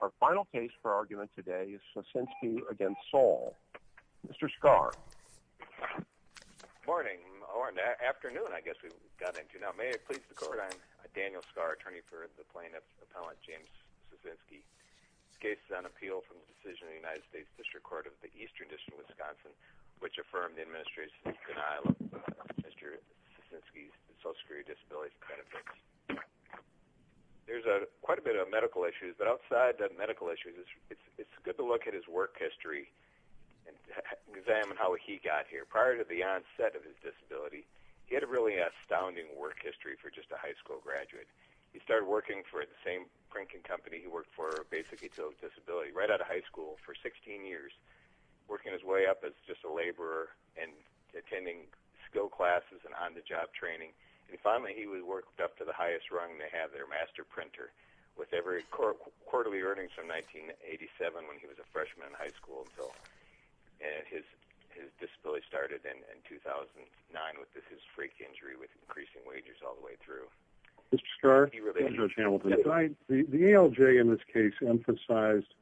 Our final case for argument today is Sosinski v. Saul. Mr. Scarr. Good morning, or afternoon I guess we've gotten into. Now may I please record I am Daniel Scarr, attorney for the plaintiff's appellant James Sosinski. This case is on appeal from the decision of the United States District Court of the Eastern District of Wisconsin, which affirmed the administration's denial of Mr. Sosinski's social security disability benefits. There's quite a bit of medical issues, but outside of medical issues, it's good to look at his work history and examine how he got here. Prior to the onset of his disability, he had a really astounding work history for just a high school graduate. He started working for the same drinking company he worked for basically until his disability, right out of high school for 16 years, working his way up as just a laborer and attending skill classes and on-the-job training. And finally, he was worked up to the highest rung to have their master printer with every quarterly earnings from 1987 when he was a freshman in high school. So his disability started in 2009 with his freak injury with increasing wages all the way through. Mr. Scarr, Judge Hamilton, the ALJ in this case emphasized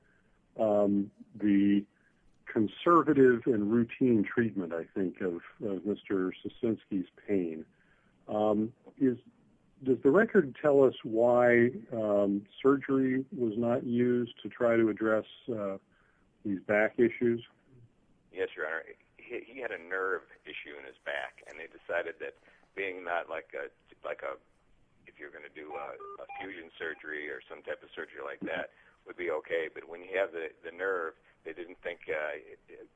the conservative and routine treatment, I think, of Mr. Sosinski's pain. Does the record tell us why surgery was not used to try to address his back issues? Yes, Your Honor. He had a nerve issue in his back, and they decided that being not like a, if you're going to do a fusion surgery or some type of surgery like that would be okay, but when you have the nerve, they didn't think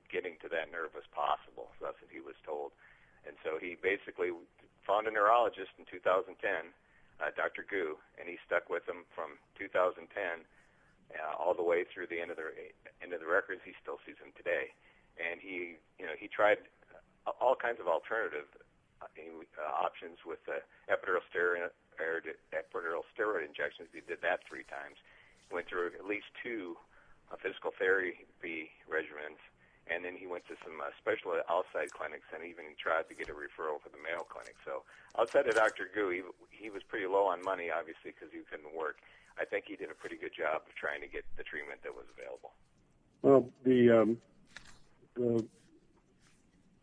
getting to that nerve was possible, as he was told. And so he basically found a neurologist in 2010, Dr. Gu, and he stuck with him from 2010 all the way through the end of the records. He still sees him today. And he tried all kinds of alternative options with epidural steroid injections. He did that three times, went through at least two physical therapy regimens, and then he went to some special outside clinics and even tried to get a referral for the Mayo Clinic. So outside of Dr. Gu, he was pretty low on money, obviously, because he couldn't work. I think he did a pretty good job of trying to get the treatment that was available. Well,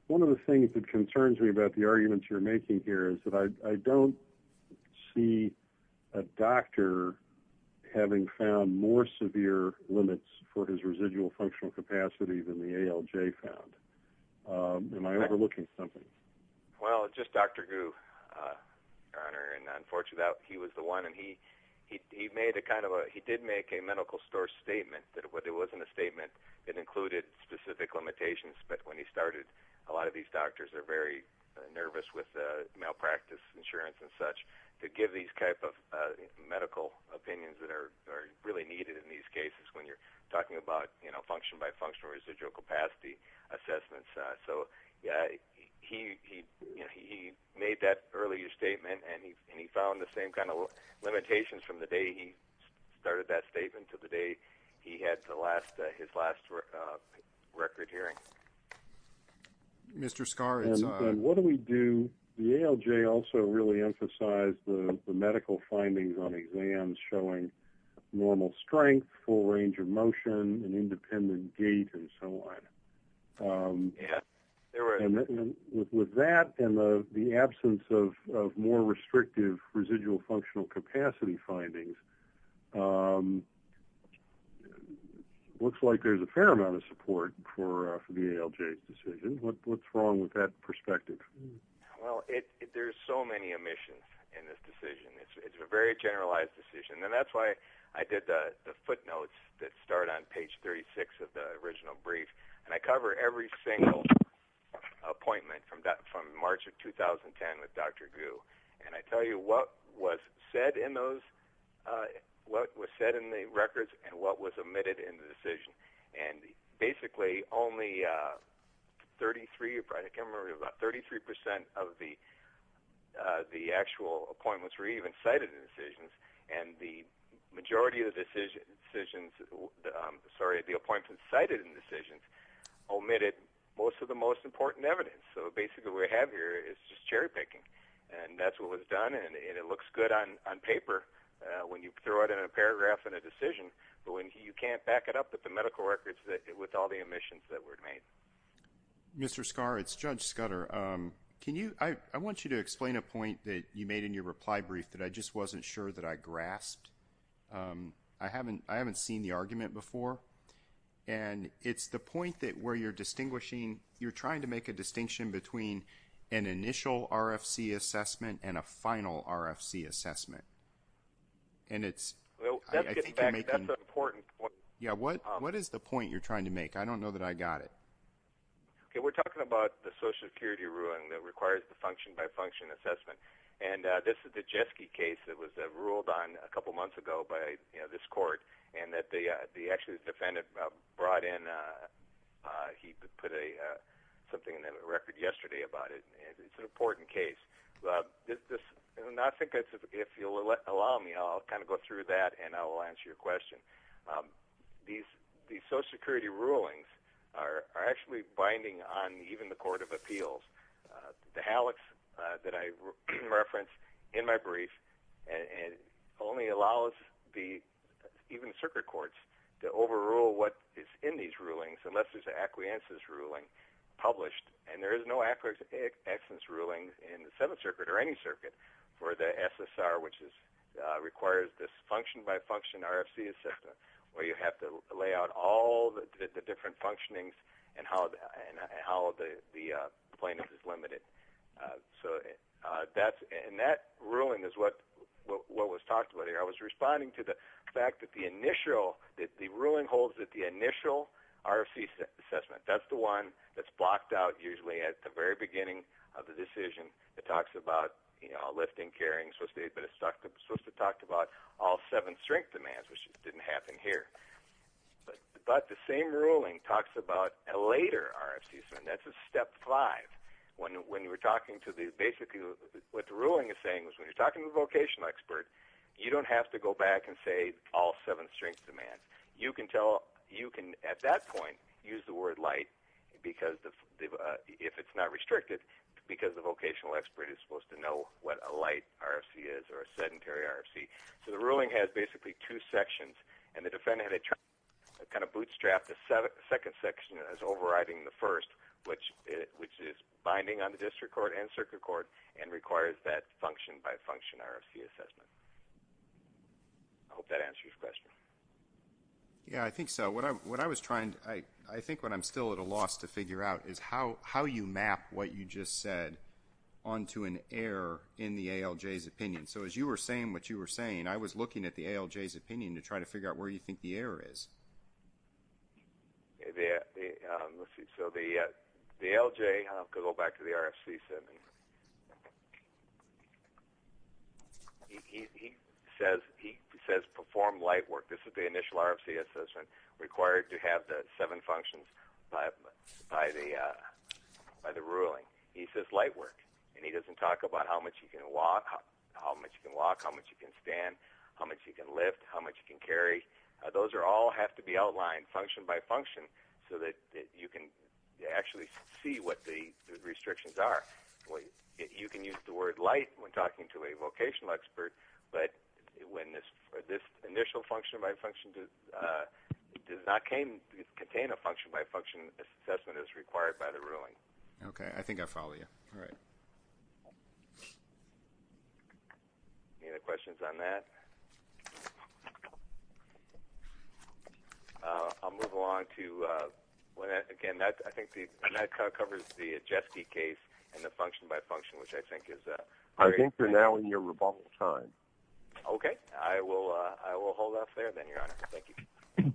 one of the things that concerns me about the arguments you're making here is that I don't see a doctor having found more severe limits for his residual functional capacity than the ALJ found. Am I overlooking something? Well, it's just Dr. Gu, Your Honor, and unfortunately he was the one. He did make a medical store statement. It wasn't a statement that included specific limitations, but when he started, a lot of these doctors are very nervous with malpractice insurance and such to give these type of medical opinions that are really needed in these cases when you're talking about function-by-function residual capacity assessments. So he made that earlier statement, and he found the same kind of limitations from the day he started that statement to the day he had his last record hearing. What do we do? The ALJ also really emphasized the medical findings on exams showing normal strength, full range of motion, and independent gait and so on. Yes. And with that and the absence of more restrictive residual functional capacity findings, it looks like there's a fair amount of support for the ALJ's decision. What's wrong with that perspective? Well, there's so many omissions in this decision. It's a very generalized decision, and that's why I did the footnotes that start on page 36 of the original brief, and I cover every single appointment from March of 2010 with Dr. Gu. And I tell you what was said in the records and what was omitted in the decision. And basically only 33% of the actual appointments were even cited in the decisions, and the majority of the appointments cited in the decisions omitted most of the most important evidence. So basically what we have here is just cherry picking, and that's what was done, and it looks good on paper when you throw it in a paragraph in a decision, but when you can't back it up with the medical records with all the omissions that were made. Mr. Scarr, it's Judge Scudder. I want you to explain a point that you made in your reply brief that I just wasn't sure that I grasped. I haven't seen the argument before, and it's the point that where you're distinguishing, you're trying to make a distinction between an initial RFC assessment and a final RFC assessment. That's an important point. Yeah, what is the point you're trying to make? I don't know that I got it. Okay, we're talking about the Social Security ruling that requires the function-by-function assessment, and this is the Jeske case that was ruled on a couple months ago by this court, and that the actual defendant brought in, he put something in the record yesterday about it. It's an important case. And I think if you'll allow me, I'll kind of go through that, and I'll answer your question. These Social Security rulings are actually binding on even the Court of Appeals. The hallux that I referenced in my brief only allows even circuit courts to overrule what is in these rulings unless there's an acquiescence ruling published, and there is no acquiescence ruling in the Seventh Circuit or any circuit for the SSR, which requires this function-by-function RFC assessment, where you have to lay out all the different functionings and how the plaintiff is limited. And that ruling is what was talked about here. I was responding to the fact that the ruling holds that the initial RFC assessment, that's the one that's blocked out usually at the very beginning of the decision. It talks about lifting, carrying, but it's supposed to talk about all seven strength demands, which didn't happen here. But the same ruling talks about a later RFC assessment. That's a step five. Basically what the ruling is saying is when you're talking to a vocational expert, you don't have to go back and say all seven strength demands. You can, at that point, use the word light if it's not restricted because the vocational expert is supposed to know what a light RFC is or a sedentary RFC. So the ruling has basically two sections, and the defendant had to kind of bootstrap the second section as overriding the first, which is binding on the district court and circuit court and requires that function-by-function RFC assessment. I hope that answers your question. Yeah, I think so. What I was trying to do, I think what I'm still at a loss to figure out, is how you map what you just said onto an error in the ALJ's opinion. So as you were saying what you were saying, I was looking at the ALJ's opinion to try to figure out where you think the error is. So the ALJ, I'll go back to the RFC, he says perform light work. This is the initial RFC assessment required to have the seven functions by the ruling. He says light work, and he doesn't talk about how much you can walk, how much you can stand, how much you can lift, how much you can carry. Those all have to be outlined function-by-function so that you can actually see what the restrictions are. You can use the word light when talking to a vocational expert, but when this initial function-by-function does not contain a function-by-function assessment as required by the ruling. Okay, I think I follow you. All right. Any other questions on that? I'll move along to, again, I think that covers the Jetski case and the function-by-function, which I think is a great thing. I think you're now in your rebuttal time. Okay, I will hold off there then, Your Honor. Thank you.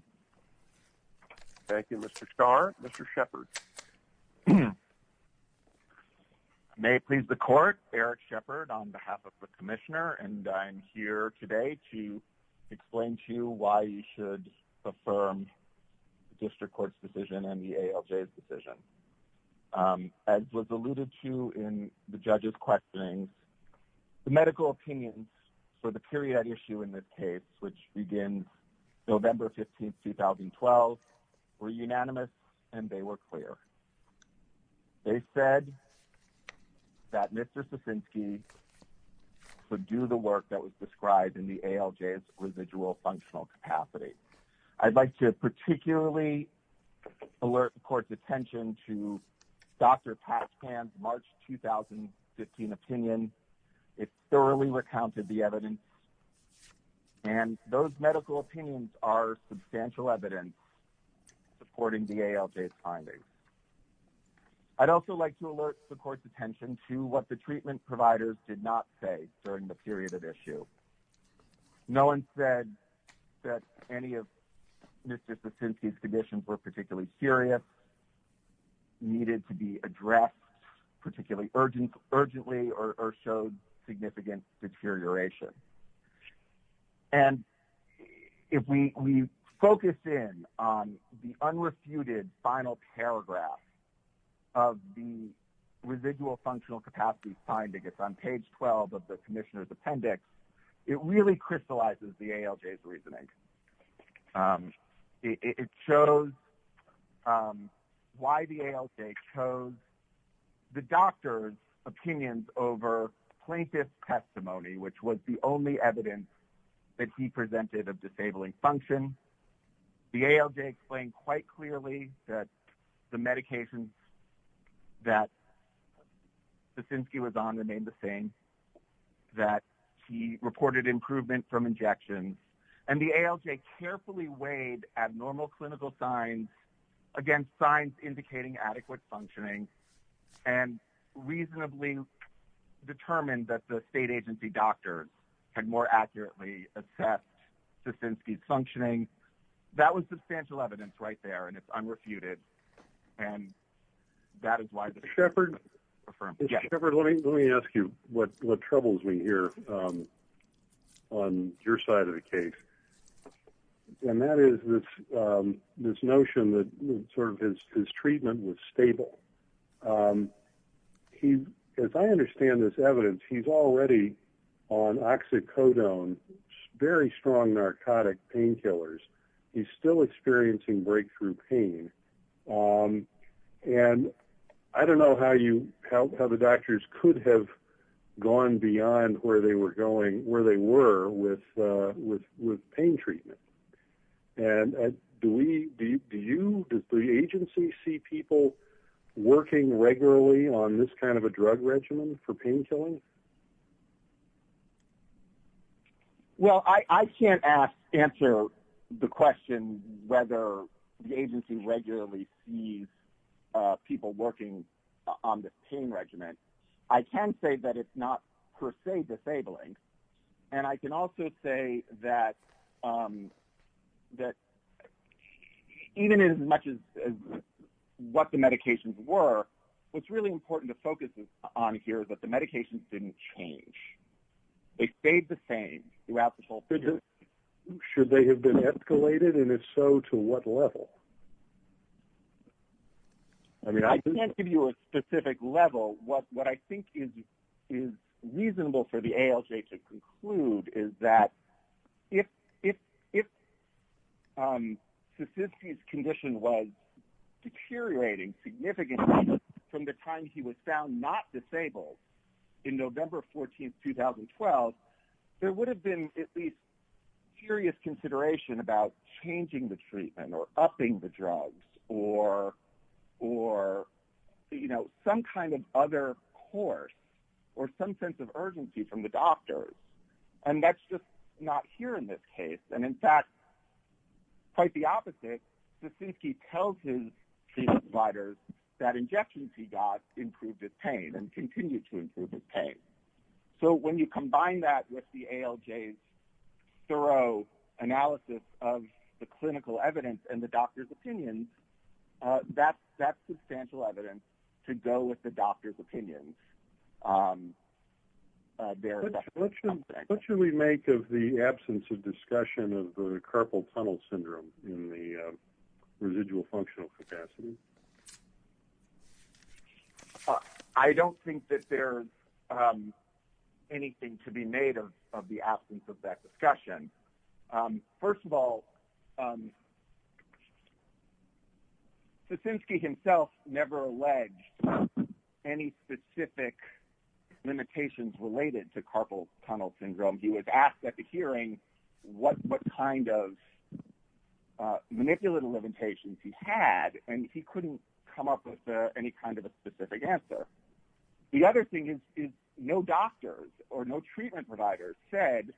Thank you, Mr. Starr. Mr. Shepard. May it please the Court, Eric Shepard on behalf of the Commissioner, and I'm here today to explain to you why you should affirm the District Court's decision and the ALJ's decision. As was alluded to in the judges' questionings, the medical opinions for the period issue in this case, which begins November 15, 2012, were unanimous and they were clear. They said that Mr. Sasinski should do the work that was described in the ALJ's residual functional capacity. I'd like to particularly alert the Court's attention to Dr. Paspan's March 2015 opinion. It thoroughly recounted the evidence, and those medical opinions are substantial evidence supporting the ALJ's findings. I'd also like to alert the Court's attention to what the treatment providers did not say during the period of issue. No one said that any of Mr. Sasinski's conditions were particularly serious, needed to be addressed particularly urgently, or showed significant deterioration. And if we focus in on the unrefuted final paragraph of the residual functional capacity findings on page 12 of the Commissioner's Appendix, it really crystallizes the ALJ's reasoning. It shows why the ALJ chose the doctor's opinions over plaintiff's testimony, which was the only evidence that he presented of disabling function. The ALJ explained quite clearly that the medications that Sasinski was on remained the same, that he reported improvement from injections, and the ALJ carefully weighed abnormal clinical signs against signs indicating adequate functioning and reasonably determined that the state agency doctor had more accurately assessed Sasinski's functioning. That was substantial evidence right there, and it's unrefuted, and that is why the ALJ confirmed it. Mr. Shepard, let me ask you what troubles me here on your side of the case, and that is this notion that sort of his treatment was stable. As I understand this evidence, he's already on oxycodone, very strong narcotic painkillers. He's still experiencing breakthrough pain, and I don't know how the doctors could have gone beyond where they were with pain treatment, and does the agency see people working regularly on this kind of a drug regimen for painkilling? Well, I can't answer the question whether the agency regularly sees people working on this pain regimen. I can say that it's not per se disabling, and I can also say that even as much as what the medications were, what's really important to focus on here is that the medications didn't change. They stayed the same throughout the whole procedure. Should they have been escalated, and if so, to what level? I can't give you a specific level. What I think is reasonable for the ALJ to conclude is that if Sasinski's condition was deteriorating significantly, from the time he was found not disabled in November 14, 2012, there would have been at least serious consideration about changing the treatment or upping the drugs or some kind of other course or some sense of urgency from the doctors, and that's just not here in this case. And, in fact, quite the opposite. Sasinski tells his treatment providers that injections he got improved his pain and continue to improve his pain. So when you combine that with the ALJ's thorough analysis of the clinical evidence and the doctor's opinions, that's substantial evidence to go with the doctor's opinions. What should we make of the absence of discussion of the carpal tunnel syndrome in the residual functional capacity? I don't think that there's anything to be made of the absence of that discussion. First of all, Sasinski himself never alleged any specific limitations related to carpal tunnel syndrome. He was asked at the hearing what kind of manipulative limitations he had, and he couldn't come up with any kind of a specific answer. The other thing is no doctors or no treatment providers said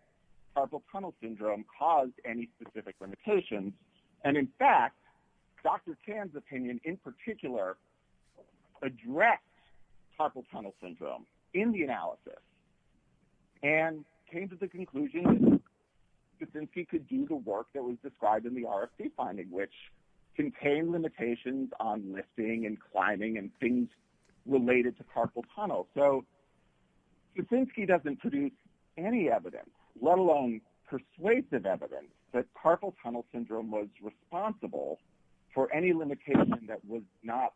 carpal tunnel syndrome caused any specific limitations, and, in fact, Dr. Tan's opinion in particular addressed carpal tunnel syndrome in the analysis and came to the conclusion that Sasinski could do the work that was described in the RFC finding, which contained limitations on lifting and climbing and things related to carpal tunnel. So Sasinski doesn't produce any evidence, let alone persuasive evidence, that carpal tunnel syndrome was responsible for any limitation that was not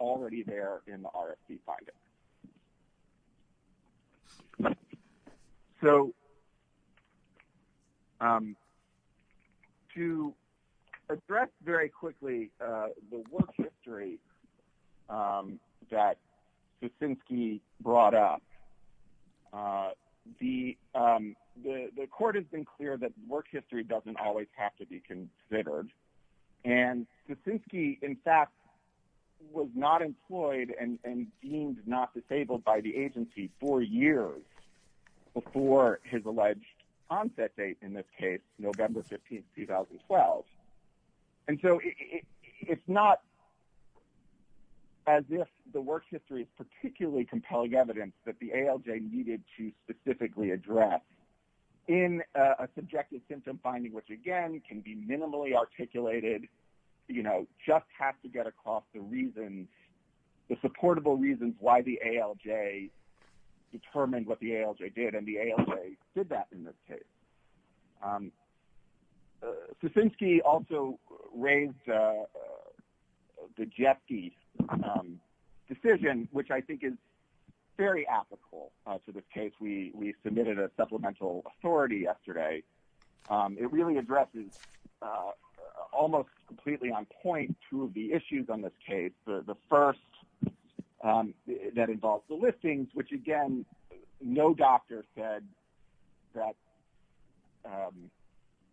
already there in the RFC finding. So to address very quickly the work history that Sasinski brought up, the court has been clear that work history doesn't always have to be considered, and Sasinski, in fact, was not employed and deemed not disabled by the agency four years before his alleged onset date in this case, November 15, 2012. And so it's not as if the work history is particularly compelling evidence that the ALJ needed to specifically address in a subjective symptom finding, which, again, can be minimally articulated, you know, just have to get across the reasons, the supportable reasons why the ALJ determined what the ALJ did, and the ALJ did that in this case. Sasinski also raised the Jepke decision, which I think is very applicable to this case. We submitted a supplemental authority yesterday. It really addresses almost completely on point two of the issues on this case. The first, that involves the listings, which, again, no doctor said that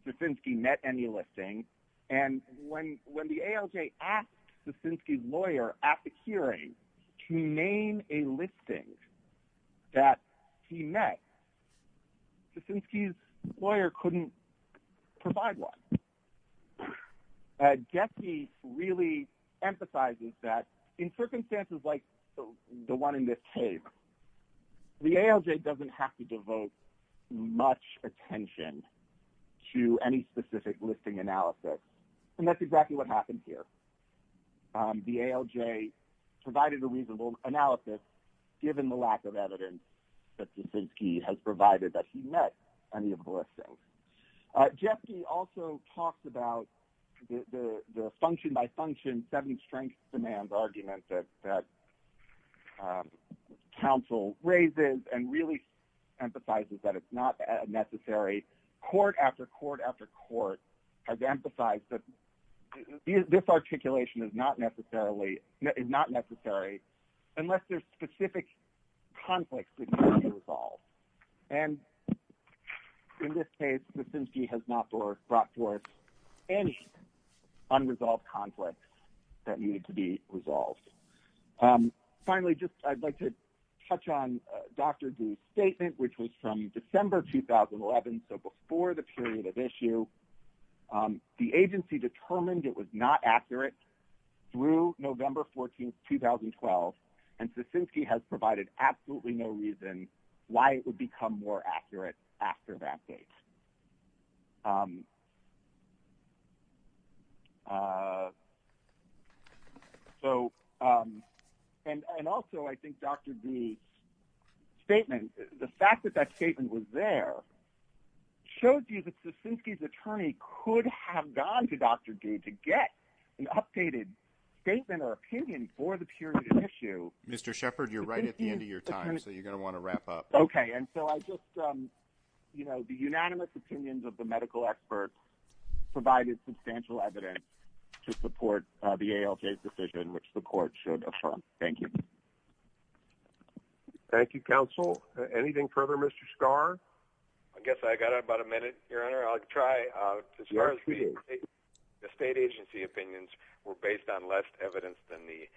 Sasinski met any listing. And when the ALJ asked Sasinski's lawyer at the hearing to name a listing that he met, Sasinski's lawyer couldn't provide one. Jepke really emphasizes that in circumstances like the one in this case, the ALJ doesn't have to devote much attention to any specific listing analysis, and that's exactly what happened here. The ALJ provided a reasonable analysis, given the lack of evidence that Sasinski has provided that he met any of the listings. Jepke also talks about the function-by-function, seven-strengths-demand argument that counsel raises and really emphasizes that it's not necessary. Court after court after court has emphasized that this articulation is not necessary, unless there's specific conflicts that need to be resolved. And in this case, Sasinski has not brought forth any unresolved conflicts that needed to be resolved. Finally, I'd like to touch on Dr. Dewey's statement, which was from December 2011, so before the period of issue. The agency determined it was not accurate through November 14, 2012, and Sasinski has provided absolutely no reason why it would become more accurate after that date. And also, I think Dr. Dewey's statement, the fact that that statement was there, shows you that Sasinski's attorney could have gone to Dr. Dewey to get an updated statement or opinion for the period of issue. Mr. Shepard, you're right at the end of your time, so you're going to want to wrap up. Okay. And so I just, you know, the unanimous opinions of the medical experts provided substantial evidence to support the ALJ's decision, which the court should affirm. Thank you. Thank you, counsel. Anything further, Mr. Scarr? I guess I got about a minute, Your Honor. I'll try. As far as the state agency opinions were based on less evidence than the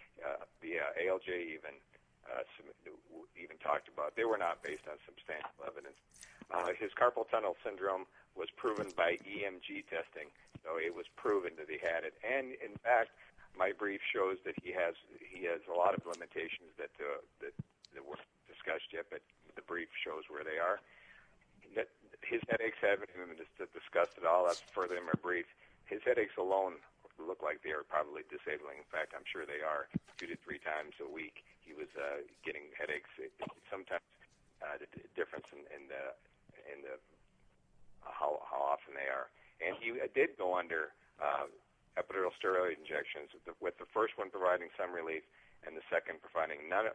ALJ even talked about. They were not based on substantial evidence. His carpal tunnel syndrome was proven by EMG testing, so it was proven that he had it. And, in fact, my brief shows that he has a lot of limitations that weren't discussed yet, but the brief shows where they are. His headaches haven't been discussed at all. That's further in my brief. His headaches alone look like they are probably disabling. In fact, I'm sure they are two to three times a week. He was getting headaches sometimes. The difference in how often they are. And he did go under epidural steroid injections, with the first one providing some relief and the second providing none.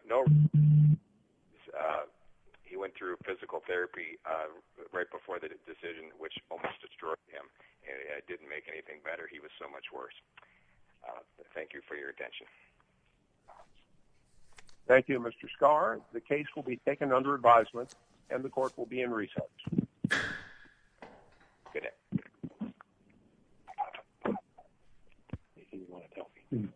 He went through physical therapy right before the decision, which almost destroyed him. It didn't make anything better. He was so much worse. Thank you for your attention. Thank you, Mr. Scarr. The case will be taken under advisement and the court will be in recess. Good day. Anything you want to tell me?